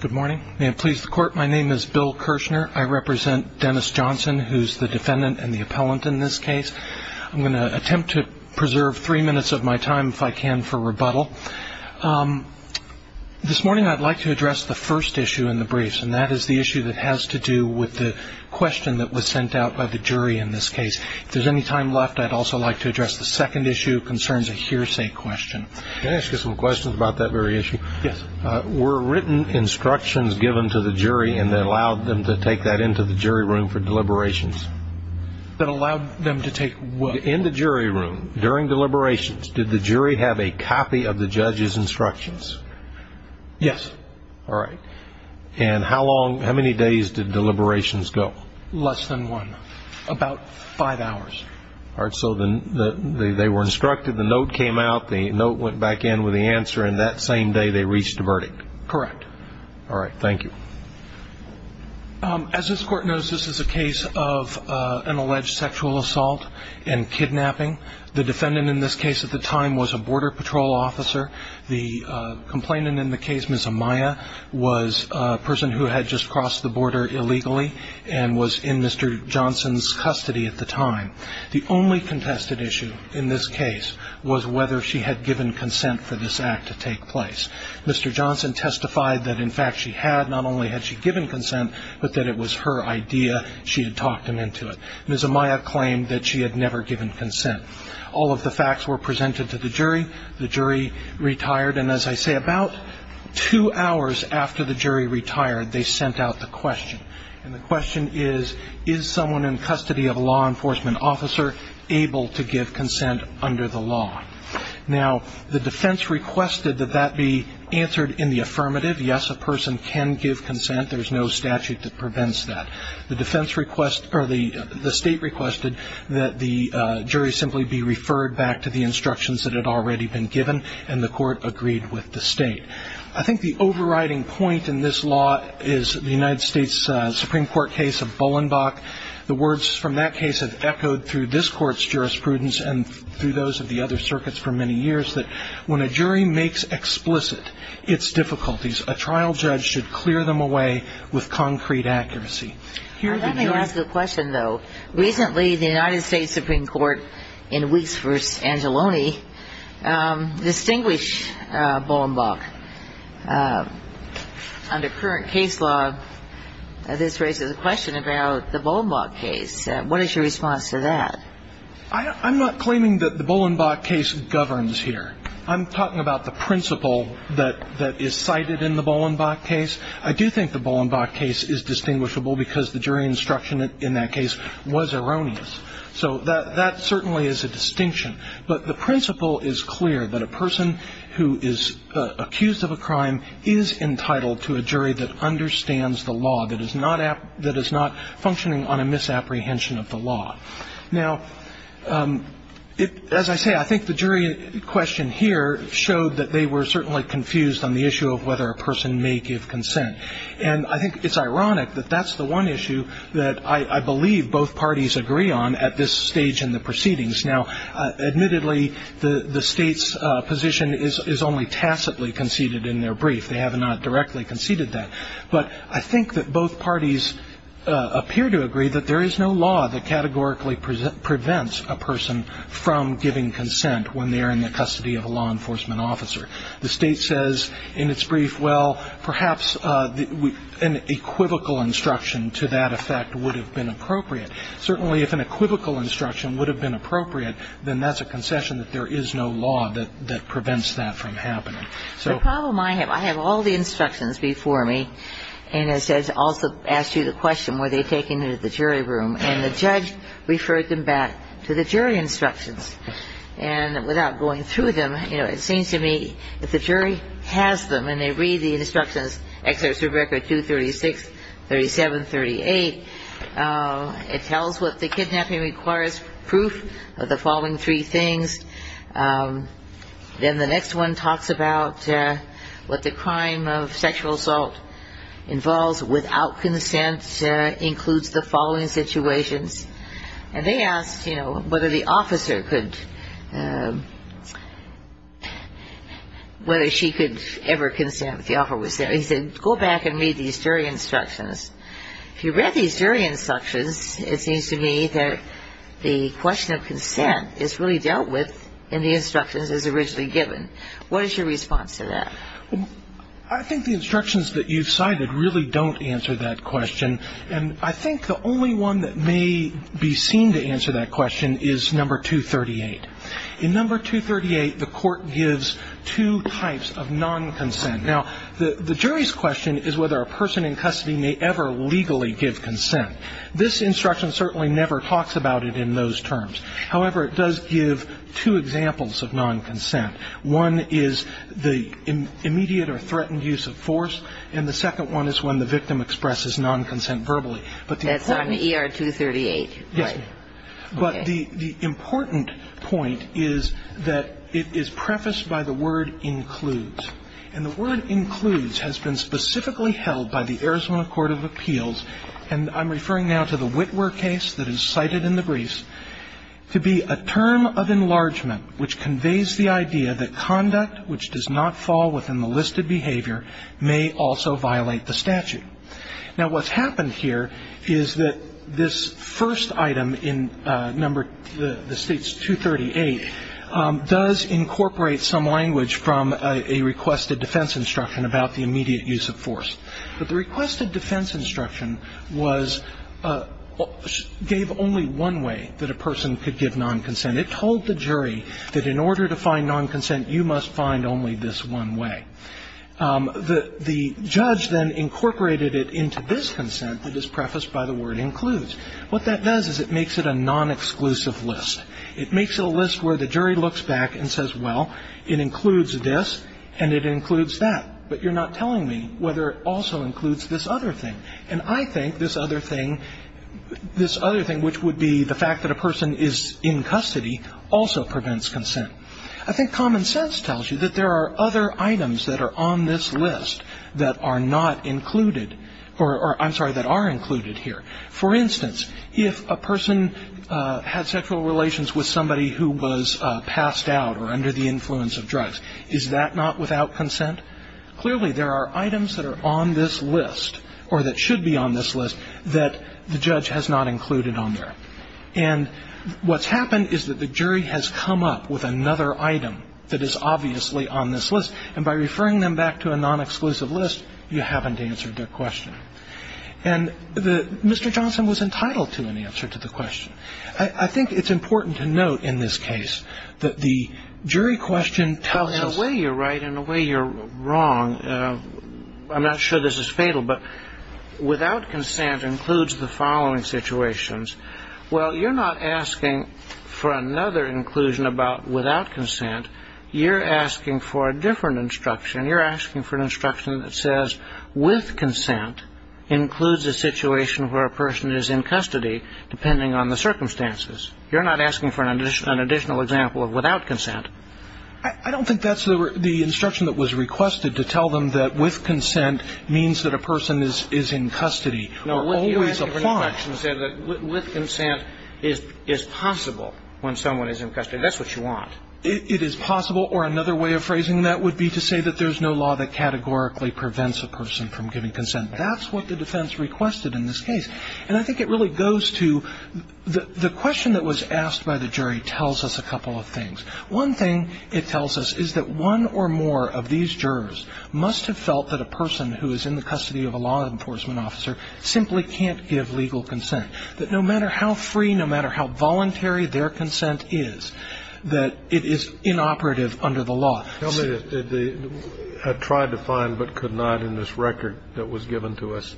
Good morning. May it please the court. My name is Bill Kirshner. I represent Dennis Johnson, who's the defendant and the appellant in this case. I'm going to attempt to preserve three minutes of my time if I can for rebuttal. This morning I'd like to address the first issue in the briefs, and that is the issue that has to do with the question that was sent out by the jury in this case. If there's any time left, I'd also like to address the second issue. It concerns a hearsay question. Can I ask you some questions about that very issue? Yes. Were written instructions given to the jury and that allowed them to take that into the jury room for deliberations? That allowed them to take what? In the jury room, during deliberations, did the jury have a copy of the judge's instructions? Yes. All right. And how many days did deliberations go? Less than one. About five hours. All right. So they were instructed, the note came out, the note went back in with the answer, and that same day they reached a verdict? Correct. All right. Thank you. As this court knows, this is a case of an alleged sexual assault and kidnapping. The defendant in this case at the time was a Border Patrol officer. The complainant in the case, Ms. Amaya, was a person who had just crossed the border illegally and was in Mr. Johnson's custody at the time. The only contested issue in this case was whether she had given consent for this act to take place. Mr. Johnson testified that, in fact, she had. Not only had she given consent, but that it was her idea. She had talked him into it. Ms. Amaya claimed that she had never given consent. All of the facts were presented to the jury. The jury retired. And as I say, about two hours after the jury retired, they sent out the question. And the question is, is someone in custody of a law enforcement officer able to give consent under the law? Now, the defense requested that that be answered in the affirmative. Yes, a person can give consent. There's no statute that prevents that. The defense requested or the state requested that the jury simply be referred back to the instructions that had already been given, and the court agreed with the state. I think the overriding point in this law is the United States Supreme Court case of Bolenbach. The words from that case have echoed through this court's jurisprudence and through those of the other circuits for many years that when a jury makes explicit its difficulties, a trial judge should clear them away with concrete accuracy. Let me ask a question, though. Recently, the United States Supreme Court, in weeks for Angeloni, distinguished Bolenbach. Under current case law, this raises a question about the Bolenbach case. What is your response to that? I'm not claiming that the Bolenbach case governs here. I'm talking about the principle that is cited in the Bolenbach case. I do think the Bolenbach case is distinguishable because the jury instruction in that case was erroneous. So that certainly is a distinction. But the principle is clear, that a person who is accused of a crime is entitled to a jury that understands the law, that is not functioning on a misapprehension of the law. Now, as I say, I think the jury question here showed that they were certainly confused on the issue of whether a person may give consent. And I think it's ironic that that's the one issue that I believe both parties agree on at this stage in the proceedings. Now, admittedly, the State's position is only tacitly conceded in their brief. They have not directly conceded that. But I think that both parties appear to agree that there is no law that categorically prevents a person from giving consent when they are in the custody of a law enforcement officer. The State says in its brief, well, perhaps an equivocal instruction to that effect would have been appropriate. Certainly if an equivocal instruction would have been appropriate, then that's a concession that there is no law that prevents that from happening. The problem I have, I have all the instructions before me. And as I also asked you the question, were they taken to the jury room? And the judge referred them back to the jury instructions. And without going through them, you know, it seems to me if the jury has them and they read the instructions, Excerpts of Record 236, 37, 38, it tells what the kidnapping requires, proof of the following three things. Then the next one talks about what the crime of sexual assault involves without consent includes the following situations. And they asked, you know, whether the officer could, whether she could ever consent if the offer was there. He said, go back and read these jury instructions. If you read these jury instructions, it seems to me that the question of consent is really dealt with in the instructions as originally given. What is your response to that? I think the instructions that you've cited really don't answer that question. And I think the only one that may be seen to answer that question is number 238. In number 238, the court gives two types of non-consent. Now, the jury's question is whether a person in custody may ever legally give consent. This instruction certainly never talks about it in those terms. However, it does give two examples of non-consent. One is the immediate or threatened use of force. And the second one is when the victim expresses non-consent verbally. That's on ER 238. Yes, ma'am. Okay. But the important point is that it is prefaced by the word includes. And the word includes has been specifically held by the Arizona Court of Appeals, and I'm referring now to the Witwer case that is cited in the briefs, to be a term of enlargement which conveys the idea that conduct which does not fall within the listed behavior may also violate the statute. Now, what's happened here is that this first item in number the state's 238 does incorporate some language from a requested defense instruction about the immediate use of force. But the requested defense instruction gave only one way that a person could give non-consent. It told the jury that in order to find non-consent, you must find only this one way. The judge then incorporated it into this consent that is prefaced by the word includes. What that does is it makes it a non-exclusive list. It makes it a list where the jury looks back and says, well, it includes this and it includes that, but you're not telling me whether it also includes this other thing. And I think this other thing, which would be the fact that a person is in custody, also prevents consent. I think common sense tells you that there are other items that are on this list that are not included, or I'm sorry, that are included here. For instance, if a person had sexual relations with somebody who was passed out or under the influence of drugs, is that not without consent? Clearly, there are items that are on this list or that should be on this list that the judge has not included on there. And what's happened is that the jury has come up with another item that is obviously on this list, and by referring them back to a non-exclusive list, you haven't answered their question. And Mr. Johnson was entitled to an answer to the question. I think it's important to note in this case that the jury question tells us. In a way, you're right. In a way, you're wrong. I'm not sure this is fatal, but without consent includes the following situations. Well, you're not asking for another inclusion about without consent. You're asking for a different instruction. You're asking for an instruction that says with consent includes a situation where a person is in custody, depending on the circumstances. You're not asking for an additional example of without consent. I don't think that's the instruction that was requested to tell them that with consent means that a person is in custody, or always applies. No, you're asking for an instruction to say that with consent is possible when someone is in custody. That's what you want. It is possible, or another way of phrasing that would be to say that there's no law that categorically prevents a person from giving consent. That's what the defense requested in this case. And I think it really goes to the question that was asked by the jury tells us a couple of things. One thing it tells us is that one or more of these jurors must have felt that a person who is in the custody of a law enforcement officer simply can't give legal consent. That no matter how free, no matter how voluntary their consent is, that it is inoperative under the law. I tried to find but could not in this record that was given to us.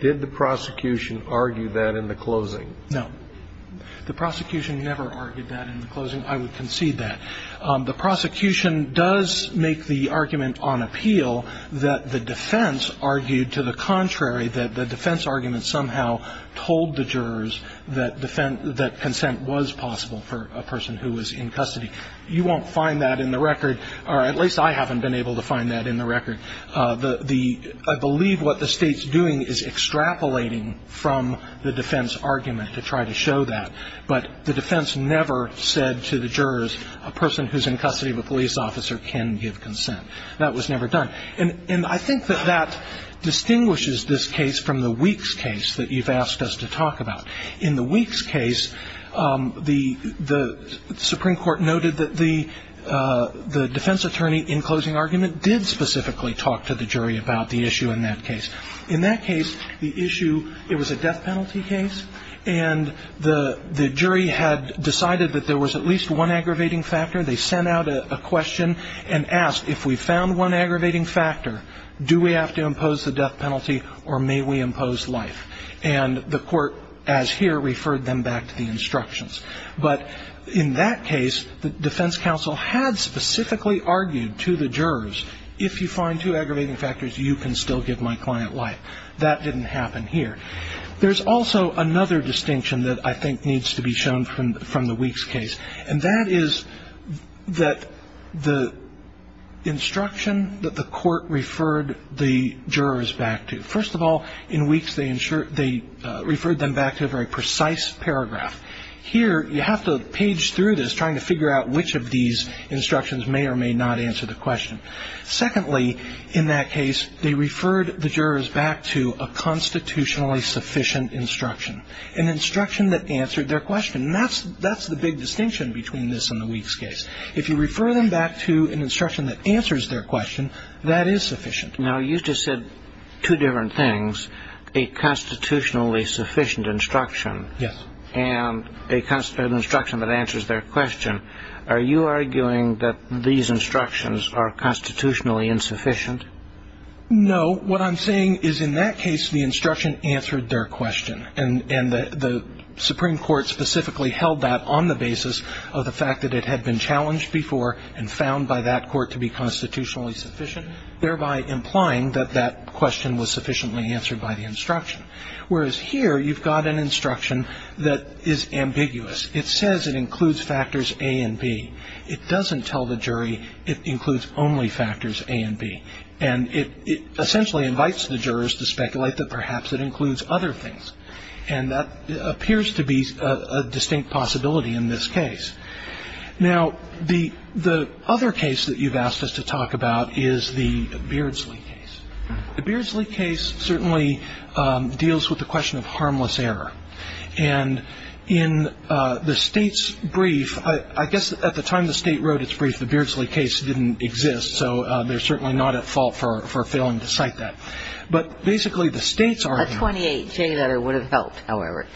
Did the prosecution argue that in the closing? No. The prosecution never argued that in the closing. I would concede that. The prosecution does make the argument on appeal that the defense argued to the contrary, that the defense argument somehow told the jurors that consent was possible for a person who was in custody. You won't find that in the record, or at least I haven't been able to find that in the record. I believe what the State's doing is extrapolating from the defense argument to try to show that. But the defense never said to the jurors a person who's in custody of a police officer can give consent. That was never done. And I think that that distinguishes this case from the Weeks case that you've asked us to talk about. In the Weeks case, the Supreme Court noted that the defense attorney in closing argument did specifically talk to the jury about the issue in that case. In that case, the issue, it was a death penalty case, and the jury had decided that there was at least one aggravating factor. They sent out a question and asked, if we found one aggravating factor, do we have to impose the death penalty, or may we impose life? And the court, as here, referred them back to the instructions. But in that case, the defense counsel had specifically argued to the jurors, if you find two aggravating factors, you can still give my client life. That didn't happen here. There's also another distinction that I think needs to be shown from the Weeks case, and that is that the instruction that the court referred the jurors back to. First of all, in Weeks, they referred them back to a very precise paragraph. Here, you have to page through this trying to figure out which of these instructions may or may not answer the question. Secondly, in that case, they referred the jurors back to a constitutionally sufficient instruction, an instruction that answered their question. That's the big distinction between this and the Weeks case. If you refer them back to an instruction that answers their question, that is sufficient. Now, you just said two different things, a constitutionally sufficient instruction. Yes. And an instruction that answers their question. Are you arguing that these instructions are constitutionally insufficient? No. What I'm saying is, in that case, the instruction answered their question. And the Supreme Court specifically held that on the basis of the fact that it had been challenged before and found by that court to be constitutionally sufficient, thereby implying that that question was sufficiently answered by the instruction. Whereas here, you've got an instruction that is ambiguous. It says it includes factors A and B. It doesn't tell the jury it includes only factors A and B. And it essentially invites the jurors to speculate that perhaps it includes other things. And that appears to be a distinct possibility in this case. Now, the other case that you've asked us to talk about is the Beardsley case. The Beardsley case certainly deals with the question of harmless error. And in the State's brief, I guess at the time the State wrote its brief, the Beardsley case didn't exist, so they're certainly not at fault for failing to cite that. But basically the State's argument. A 28-J letter would have helped, however.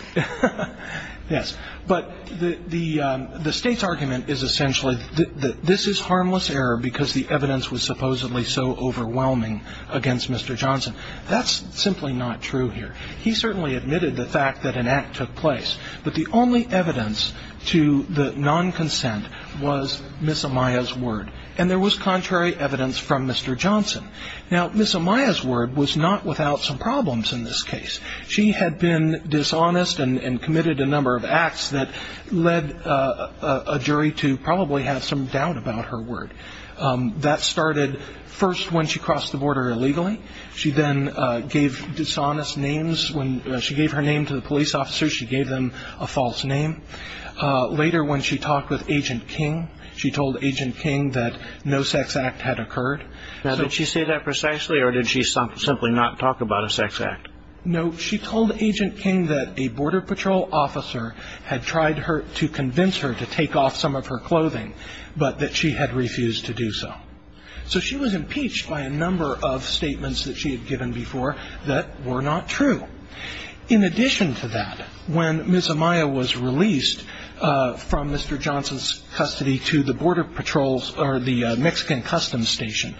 Yes. But the State's argument is essentially that this is harmless error because the evidence was supposedly so overwhelming against Mr. Johnson. That's simply not true here. He certainly admitted the fact that an act took place. But the only evidence to the non-consent was Ms. Amaya's word. And there was contrary evidence from Mr. Johnson. Now, Ms. Amaya's word was not without some problems in this case. She had been dishonest and committed a number of acts that led a jury to probably have some doubt about her word. That started first when she crossed the border illegally. She then gave dishonest names. When she gave her name to the police officers, she gave them a false name. Later when she talked with Agent King, she told Agent King that no sex act had occurred. Now, did she say that precisely or did she simply not talk about a sex act? No, she told Agent King that a Border Patrol officer had tried to convince her to take off some of her clothing, but that she had refused to do so. So she was impeached by a number of statements that she had given before that were not true. In addition to that, when Ms. Amaya was released from Mr. Johnson's custody to the Mexican Customs Station,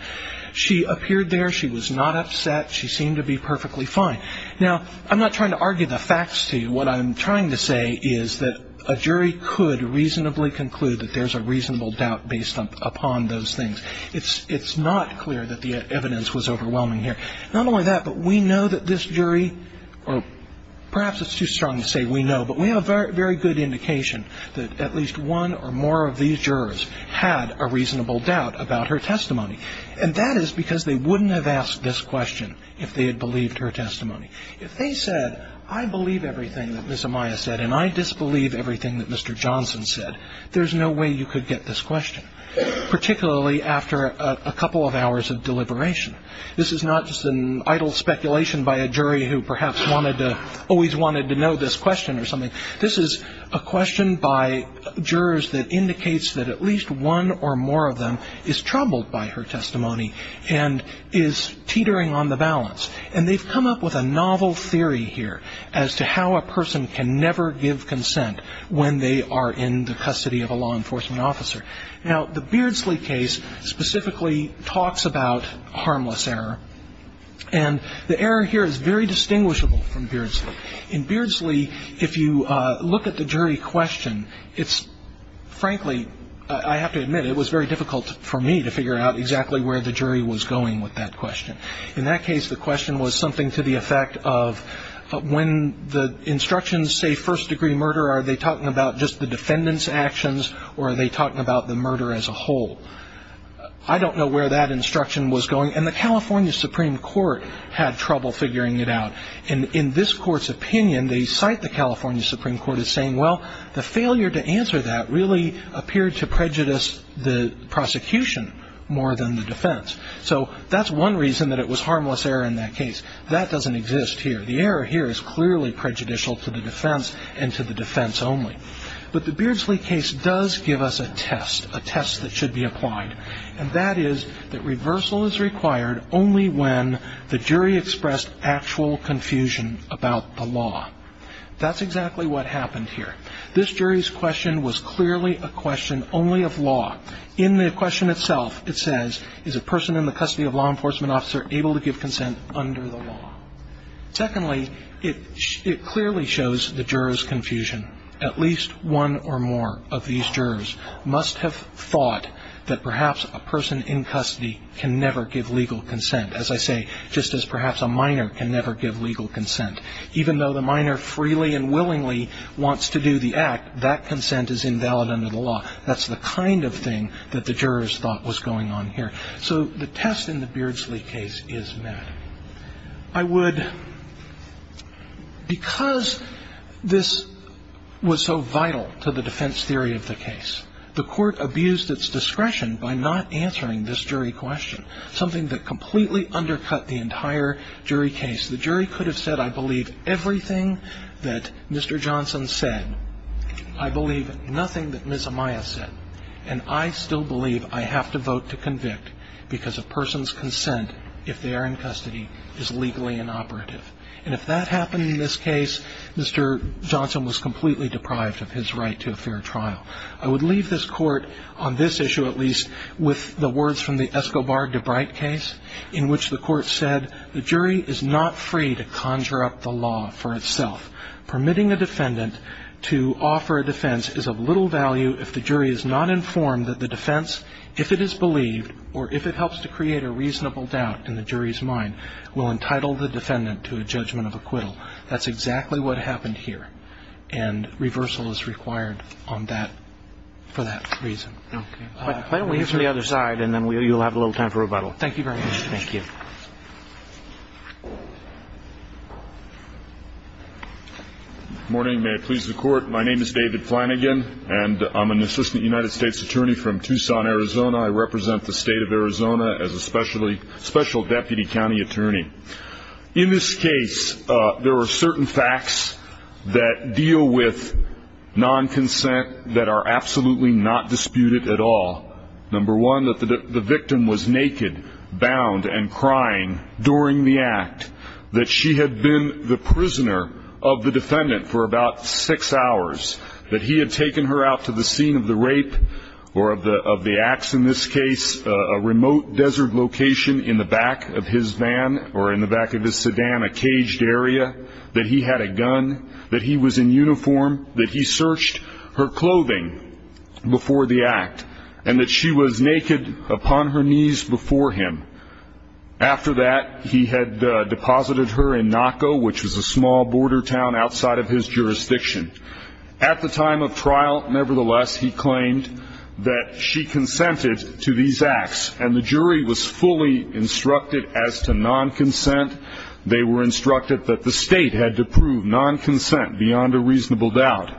she appeared there, she was not upset, she seemed to be perfectly fine. Now, I'm not trying to argue the facts to you. What I'm trying to say is that a jury could reasonably conclude that there's a reasonable doubt based upon those things. It's not clear that the evidence was overwhelming here. Not only that, but we know that this jury, or perhaps it's too strong to say we know, but we have a very good indication that at least one or more of these jurors had a reasonable doubt about her testimony. And that is because they wouldn't have asked this question if they had believed her testimony. If they said, I believe everything that Ms. Amaya said and I disbelieve everything that Mr. Johnson said, there's no way you could get this question, particularly after a couple of hours of deliberation. This is not just an idle speculation by a jury who perhaps always wanted to know this question or something. This is a question by jurors that indicates that at least one or more of them is troubled by her testimony and is teetering on the balance. And they've come up with a novel theory here as to how a person can never give consent when they are in the custody of a law enforcement officer. Now, the Beardsley case specifically talks about harmless error. And the error here is very distinguishable from Beardsley. In Beardsley, if you look at the jury question, it's frankly, I have to admit, it was very difficult for me to figure out exactly where the jury was going with that question. In that case, the question was something to the effect of when the instructions say first-degree murder, are they talking about just the defendant's actions or are they talking about the murder as a whole? I don't know where that instruction was going. And the California Supreme Court had trouble figuring it out. And in this court's opinion, they cite the California Supreme Court as saying, well, the failure to answer that really appeared to prejudice the prosecution more than the defense. So that's one reason that it was harmless error in that case. That doesn't exist here. The error here is clearly prejudicial to the defense and to the defense only. But the Beardsley case does give us a test, a test that should be applied, and that is that reversal is required only when the jury expressed actual confusion about the law. That's exactly what happened here. This jury's question was clearly a question only of law. In the question itself, it says, is a person in the custody of a law enforcement officer able to give consent under the law? Secondly, it clearly shows the juror's confusion. At least one or more of these jurors must have thought that perhaps a person in custody can never give legal consent, as I say, just as perhaps a minor can never give legal consent. Even though the minor freely and willingly wants to do the act, that consent is invalid under the law. That's the kind of thing that the jurors thought was going on here. So the test in the Beardsley case is met. I would, because this was so vital to the defense theory of the case, the court abused its discretion by not answering this jury question, something that completely undercut the entire jury case. The jury could have said, I believe everything that Mr. Johnson said. I believe nothing that Ms. Amaya said. And I still believe I have to vote to convict because a person's consent, if they are in custody, is legally inoperative. And if that happened in this case, Mr. Johnson was completely deprived of his right to a fair trial. I would leave this Court, on this issue at least, with the words from the Escobar-DeBrite case, in which the Court said the jury is not free to conjure up the law for itself, permitting a defendant to offer a defense is of little value if the jury is not informed that the defense, if it is believed or if it helps to create a reasonable doubt in the jury's mind, will entitle the defendant to a judgment of acquittal. That's exactly what happened here. And reversal is required on that, for that reason. Okay. Why don't we move to the other side, and then you'll have a little time for rebuttal. Thank you very much. Thank you. Good morning. May it please the Court. My name is David Flanagan, and I'm an assistant United States attorney from Tucson, Arizona. I represent the state of Arizona as a special deputy county attorney. In this case, there are certain facts that deal with non-consent that are absolutely not disputed at all. Number one, that the victim was naked, bound, and crying during the act, that she had been the prisoner of the defendant for about six hours, that he had taken her out to the scene of the rape or of the acts in this case, a remote desert location in the back of his van or in the back of his sedan, a caged area, that he had a gun, that he was in uniform, that he searched her clothing before the act, and that she was naked upon her knees before him. After that, he had deposited her in Naco, which was a small border town outside of his jurisdiction. At the time of trial, nevertheless, he claimed that she consented to these acts, and the jury was fully instructed as to non-consent. They were instructed that the state had to prove non-consent beyond a reasonable doubt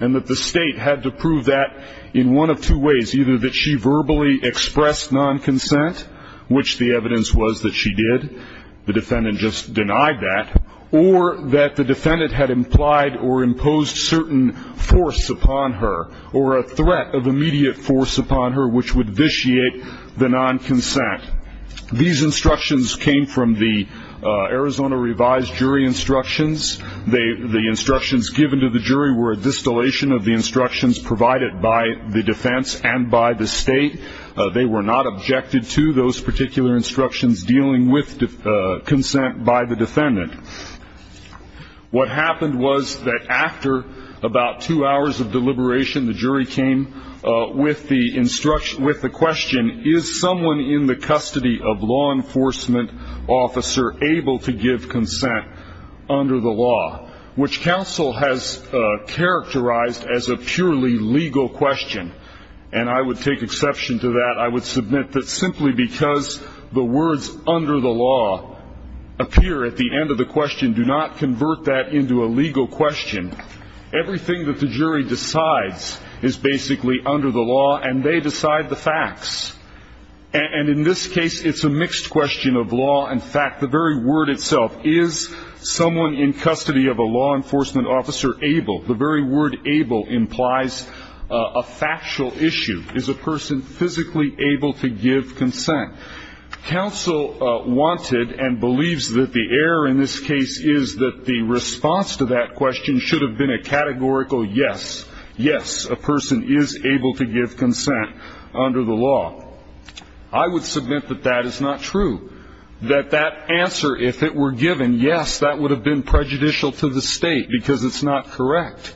and that the state had to prove that in one of two ways, either that she verbally expressed non-consent, which the evidence was that she did, the defendant just denied that, or that the defendant had implied or imposed certain force upon her or a threat of immediate force upon her which would vitiate the non-consent. These instructions came from the Arizona revised jury instructions. The instructions given to the jury were a distillation of the instructions provided by the defense and by the state. They were not objected to those particular instructions dealing with consent by the defendant. What happened was that after about two hours of deliberation, the jury came with the question, is someone in the custody of law enforcement officer able to give consent under the law, which counsel has characterized as a purely legal question, and I would take exception to that. I would submit that simply because the words under the law appear at the end of the question, do not convert that into a legal question. Everything that the jury decides is basically under the law, and they decide the facts. And in this case, it's a mixed question of law and fact. The very word itself, is someone in custody of a law enforcement officer able, the very word able implies a factual issue. Is a person physically able to give consent? Counsel wanted and believes that the error in this case is that the response to that question should have been a categorical yes. Yes, a person is able to give consent under the law. I would submit that that is not true. That that answer, if it were given, yes, that would have been prejudicial to the state because it's not correct.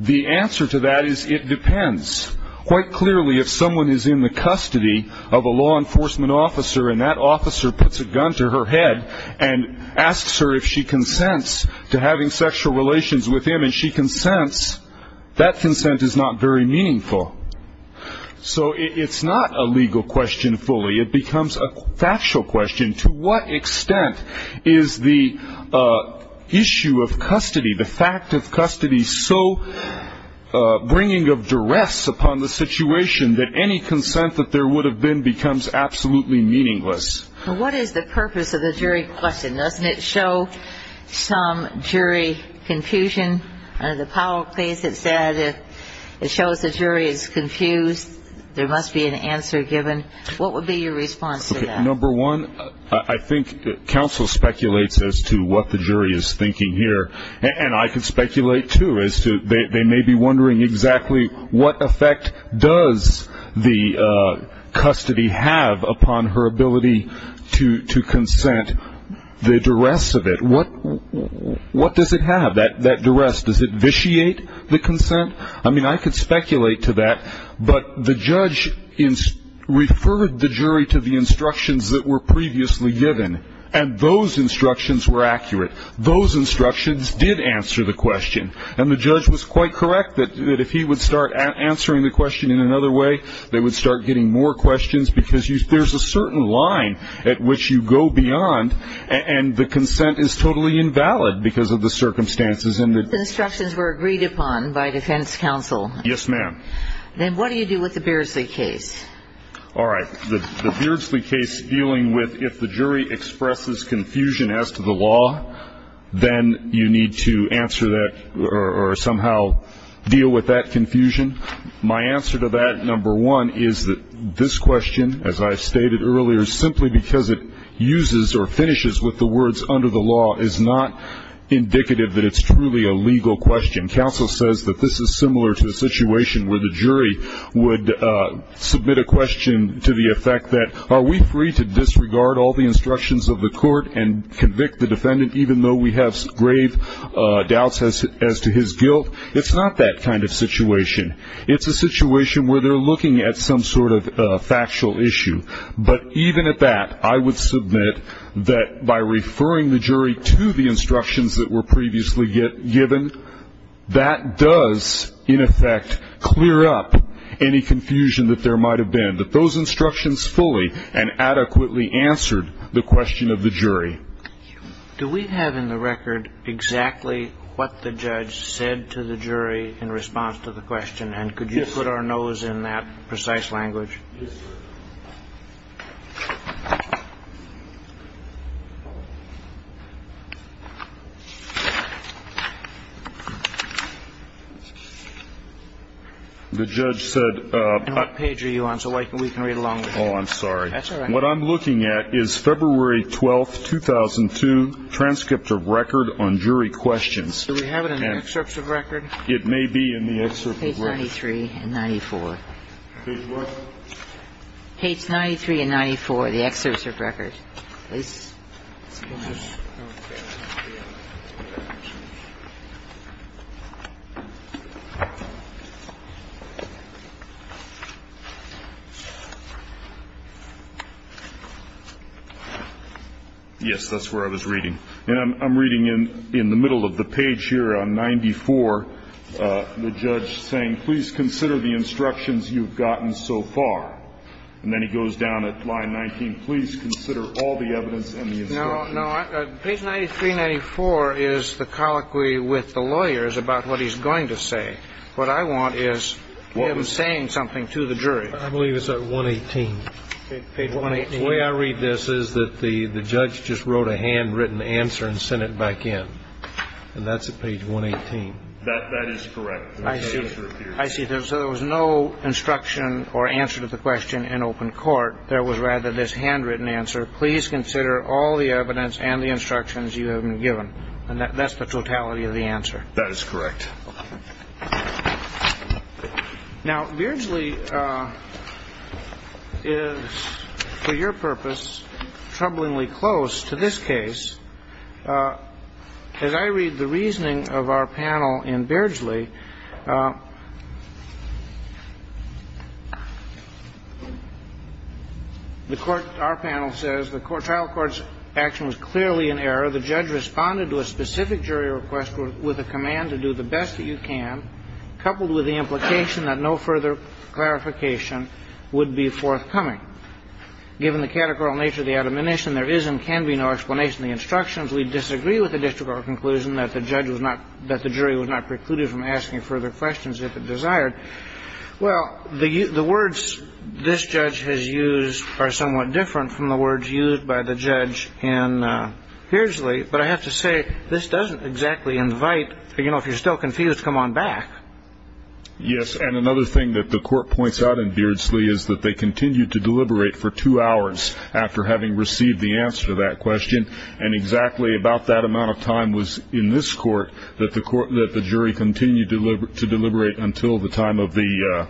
The answer to that is it depends. Quite clearly, if someone is in the custody of a law enforcement officer and that officer puts a gun to her head and asks her if she consents to having sexual relations with him and she consents, that consent is not very meaningful. So it's not a legal question fully. It becomes a factual question. To what extent is the issue of custody, the fact of custody, so bringing of duress upon the situation that any consent that there would have been becomes absolutely meaningless? Well, what is the purpose of the jury question? Doesn't it show some jury confusion? Under the Powell case, it said it shows the jury is confused. There must be an answer given. What would be your response to that? Well, number one, I think counsel speculates as to what the jury is thinking here, and I can speculate, too, as to they may be wondering exactly what effect does the custody have upon her ability to consent. The duress of it, what does it have? That duress, does it vitiate the consent? I mean, I could speculate to that, but the judge referred the jury to the instructions that were previously given, and those instructions were accurate. Those instructions did answer the question, and the judge was quite correct that if he would start answering the question in another way, they would start getting more questions because there's a certain line at which you go beyond, and the consent is totally invalid because of the circumstances. Those instructions were agreed upon by defense counsel. Yes, ma'am. Then what do you do with the Beardsley case? All right. The Beardsley case dealing with if the jury expresses confusion as to the law, then you need to answer that or somehow deal with that confusion. My answer to that, number one, is that this question, as I stated earlier, simply because it uses or finishes with the words under the law is not indicative that it's truly a legal question. Counsel says that this is similar to a situation where the jury would submit a question to the effect that, are we free to disregard all the instructions of the court and convict the defendant, even though we have grave doubts as to his guilt? It's not that kind of situation. It's a situation where they're looking at some sort of factual issue. But even at that, I would submit that by referring the jury to the instructions that were previously given, that does, in effect, clear up any confusion that there might have been, that those instructions fully and adequately answered the question of the jury. Do we have in the record exactly what the judge said to the jury in response to the question, and could you put our nose in that precise language? Yes, sir. The judge said ---- And what page are you on so we can read along with you? Oh, I'm sorry. That's all right. What I'm looking at is February 12th, 2002, transcript of record on jury questions. Do we have it in the excerpts of record? It may be in the excerpt of record. Page 93 and 94. Page what? Page 93 and 94, the excerpt of record. Yes, that's where I was reading. And I'm reading in the middle of the page here on 94, the judge saying, please consider the instructions you've gotten so far. And then he goes down at line 19, please consider all the evidence and the instructions. Page 93 and 94 is the colloquy with the lawyers about what he's going to say. What I want is him saying something to the jury. I believe it's at 118. Page 118. The way I read this is that the judge just wrote a handwritten answer and sent it back in. And that's at page 118. That is correct. I see. I see. So there was no instruction or answer to the question in open court. There was rather this handwritten answer. Please consider all the evidence and the instructions you have been given. And that's the totality of the answer. That is correct. Now, Beardsley is, for your purpose, troublingly close to this case. As I read the reasoning of our panel in Beardsley, the court, our panel says, the trial court's action was clearly in error. The judge responded to a specific jury request with a command to do the best that you can, coupled with the implication that no further clarification would be forthcoming. Given the categorical nature of the admonition, there is and can be no explanation of the instructions. We disagree with the district court conclusion that the jury was not precluded from asking further questions if it desired. Well, the words this judge has used are somewhat different from the words used by the judge in Beardsley. But I have to say, this doesn't exactly invite, you know, if you're still confused, come on back. Yes, and another thing that the court points out in Beardsley is that they continued to deliberate for two hours after having received the answer to that question. And exactly about that amount of time was in this court that the jury continued to deliberate until the time of the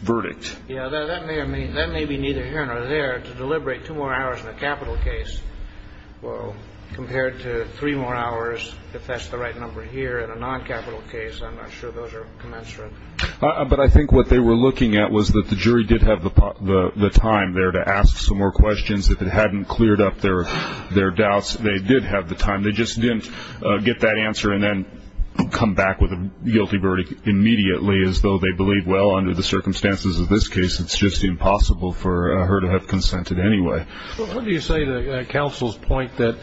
verdict. Yeah, that may be neither here nor there, to deliberate two more hours in a capital case. Well, compared to three more hours, if that's the right number here, in a non-capital case, I'm not sure those are commensurate. But I think what they were looking at was that the jury did have the time there to ask some more questions. If it hadn't cleared up their doubts, they did have the time. They just didn't get that answer and then come back with a guilty verdict immediately, as though they believed, well, under the circumstances of this case, it's just impossible for her to have consented anyway. What do you say to counsel's point that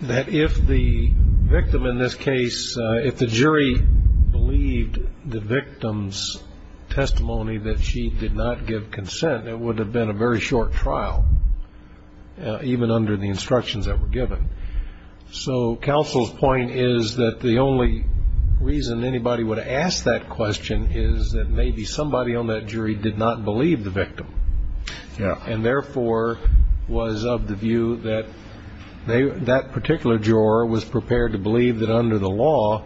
if the victim in this case, if the jury believed the victim's testimony that she did not give consent, it would have been a very short trial, even under the instructions that were given. So counsel's point is that the only reason anybody would have asked that question is that maybe somebody on that jury did not believe the victim. And therefore was of the view that that particular juror was prepared to believe that under the law,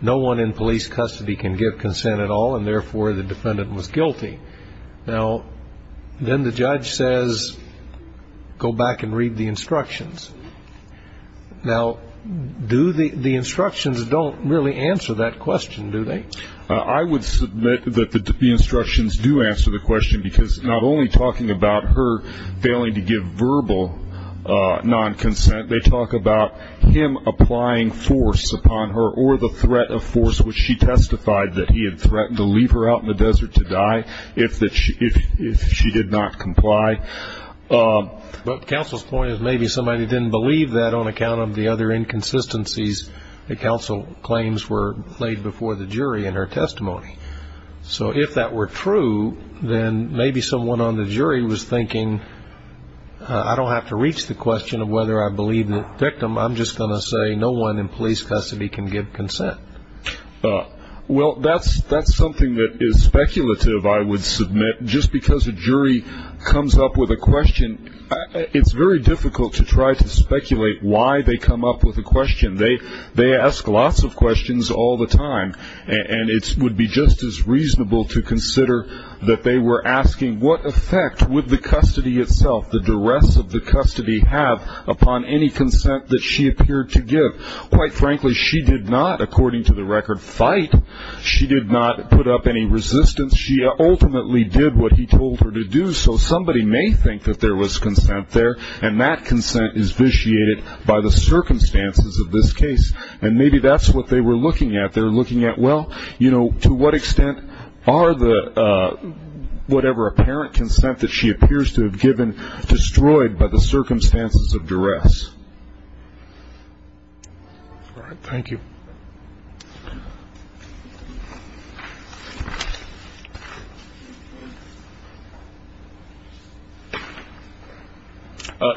no one in police custody can give consent at all, and therefore the defendant was guilty. Now, then the judge says, go back and read the instructions. Now, do the instructions don't really answer that question, do they? I would submit that the instructions do answer the question, because not only talking about her failing to give verbal non-consent, they talk about him applying force upon her or the threat of force, which she testified that he had threatened to leave her out in the desert to die if she did not comply. But counsel's point is maybe somebody didn't believe that on account of the other inconsistencies that counsel claims were laid before the jury in her testimony. So if that were true, then maybe someone on the jury was thinking, I don't have to reach the question of whether I believe the victim, I'm just going to say no one in police custody can give consent. Well, that's something that is speculative, I would submit. Just because a jury comes up with a question, it's very difficult to try to speculate why they come up with a question. They ask lots of questions all the time, and it would be just as reasonable to consider that they were asking what effect would the custody itself, the duress of the custody, have upon any consent that she appeared to give. Quite frankly, she did not, according to the record, fight. She did not put up any resistance. She ultimately did what he told her to do. So somebody may think that there was consent there, and that consent is vitiated by the circumstances of this case, and maybe that's what they were looking at. They were looking at, well, you know, to what extent are the whatever apparent consent that she appears to have given destroyed by the circumstances of duress? All right. Thank you.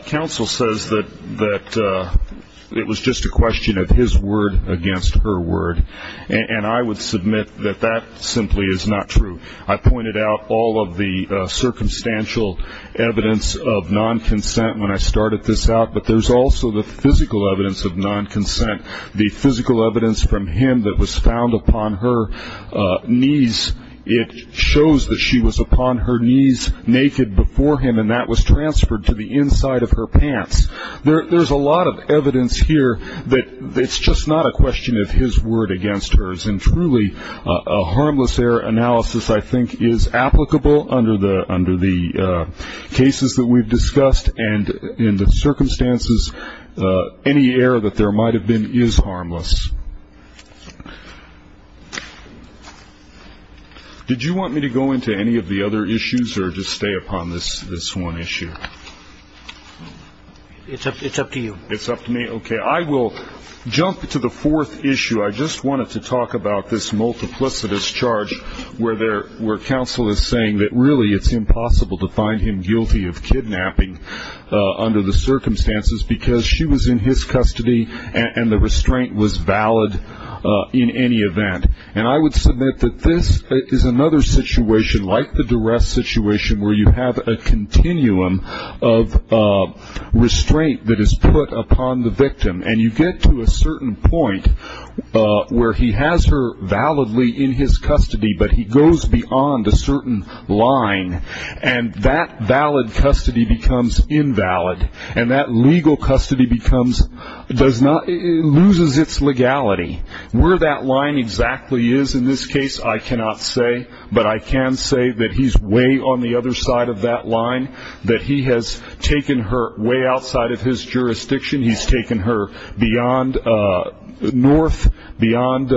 Counsel says that it was just a question of his word against her word, and I would submit that that simply is not true. I pointed out all of the circumstantial evidence of non-consent when I started this out, but there's also the physical evidence of non-consent, the physical evidence from him that was found upon her knees. It shows that she was upon her knees naked before him, and that was transferred to the inside of her pants. There's a lot of evidence here that it's just not a question of his word against hers, and truly a harmless error analysis, I think, is applicable under the cases that we've discussed and in the circumstances any error that there might have been is harmless. Did you want me to go into any of the other issues or just stay upon this one issue? It's up to you. It's up to me? Okay. I will jump to the fourth issue. I just wanted to talk about this multiplicitous charge where counsel is saying that, really, it's impossible to find him guilty of kidnapping under the circumstances because she was in his custody and the restraint was valid in any event. And I would submit that this is another situation, like the duress situation, where you have a continuum of restraint that is put upon the victim, and you get to a certain point where he has her validly in his custody, but he goes beyond a certain line, and that valid custody becomes invalid, and that legal custody loses its legality. Where that line exactly is in this case I cannot say, but I can say that he's way on the other side of that line, that he has taken her way outside of his jurisdiction. He's taken her beyond north, beyond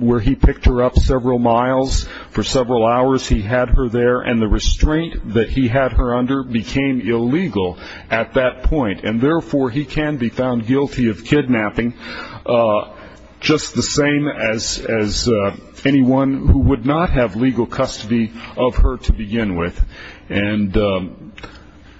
where he picked her up several miles. For several hours he had her there, and the restraint that he had her under became illegal at that point, and therefore he can be found guilty of kidnapping just the same as anyone who would not have legal custody of her to begin with. And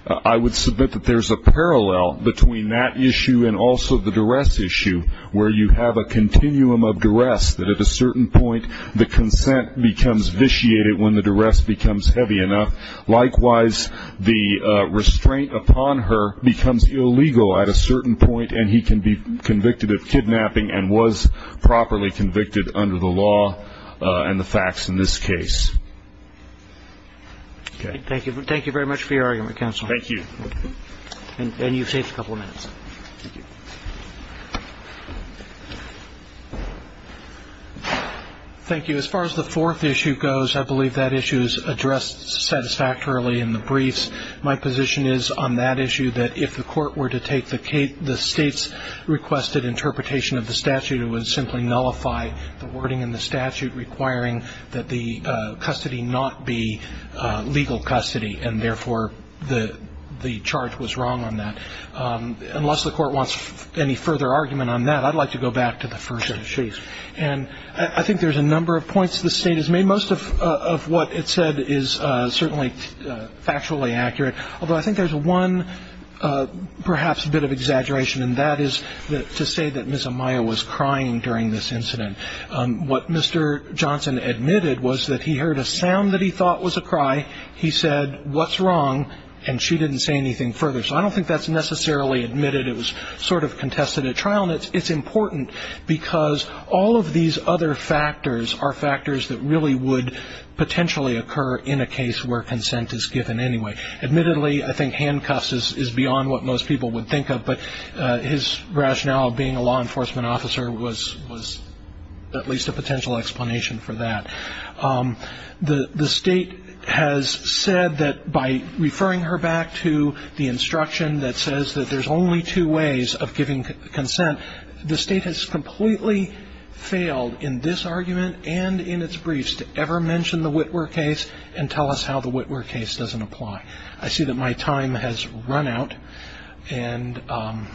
I would submit that there's a parallel between that issue and also the duress issue, where you have a continuum of duress that at a certain point the consent becomes vitiated when the duress becomes heavy enough. Likewise, the restraint upon her becomes illegal at a certain point, and he can be convicted of kidnapping and was properly convicted under the law and the facts in this case. Okay. Thank you. Thank you very much for your argument, counsel. Thank you. And you've saved a couple of minutes. Thank you. Thank you. As far as the fourth issue goes, I believe that issue is addressed satisfactorily in the briefs. My position is on that issue that if the Court were to take the State's requested interpretation of the statute, it would simply nullify the wording in the statute requiring that the custody not be legal custody, and therefore the charge was wrong on that. Unless the Court wants any further argument on that, I'd like to go back to the first issue. And I think there's a number of points the State has made. Most of what it said is certainly factually accurate, although I think there's one perhaps bit of exaggeration, and that is to say that Ms. Amaya was crying during this incident. What Mr. Johnson admitted was that he heard a sound that he thought was a cry. He said, what's wrong, and she didn't say anything further. So I don't think that's necessarily admitted. It was sort of contested at trial, and it's important because all of these other factors are factors that really would potentially occur in a case where consent is given anyway. Admittedly, I think handcuffs is beyond what most people would think of, but his rationale of being a law enforcement officer was at least a potential explanation for that. The State has said that by referring her back to the instruction that says that there's only two ways of giving consent, the State has completely failed in this argument and in its briefs to ever mention the Witwer case and tell us how the Witwer case doesn't apply. I see that my time has run out, and I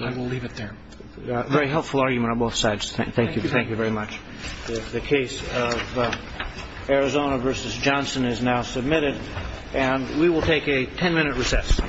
will leave it there. Very helpful argument on both sides. Thank you. Thank you very much. The case of Arizona v. Johnson is now submitted, and we will take a ten-minute recess.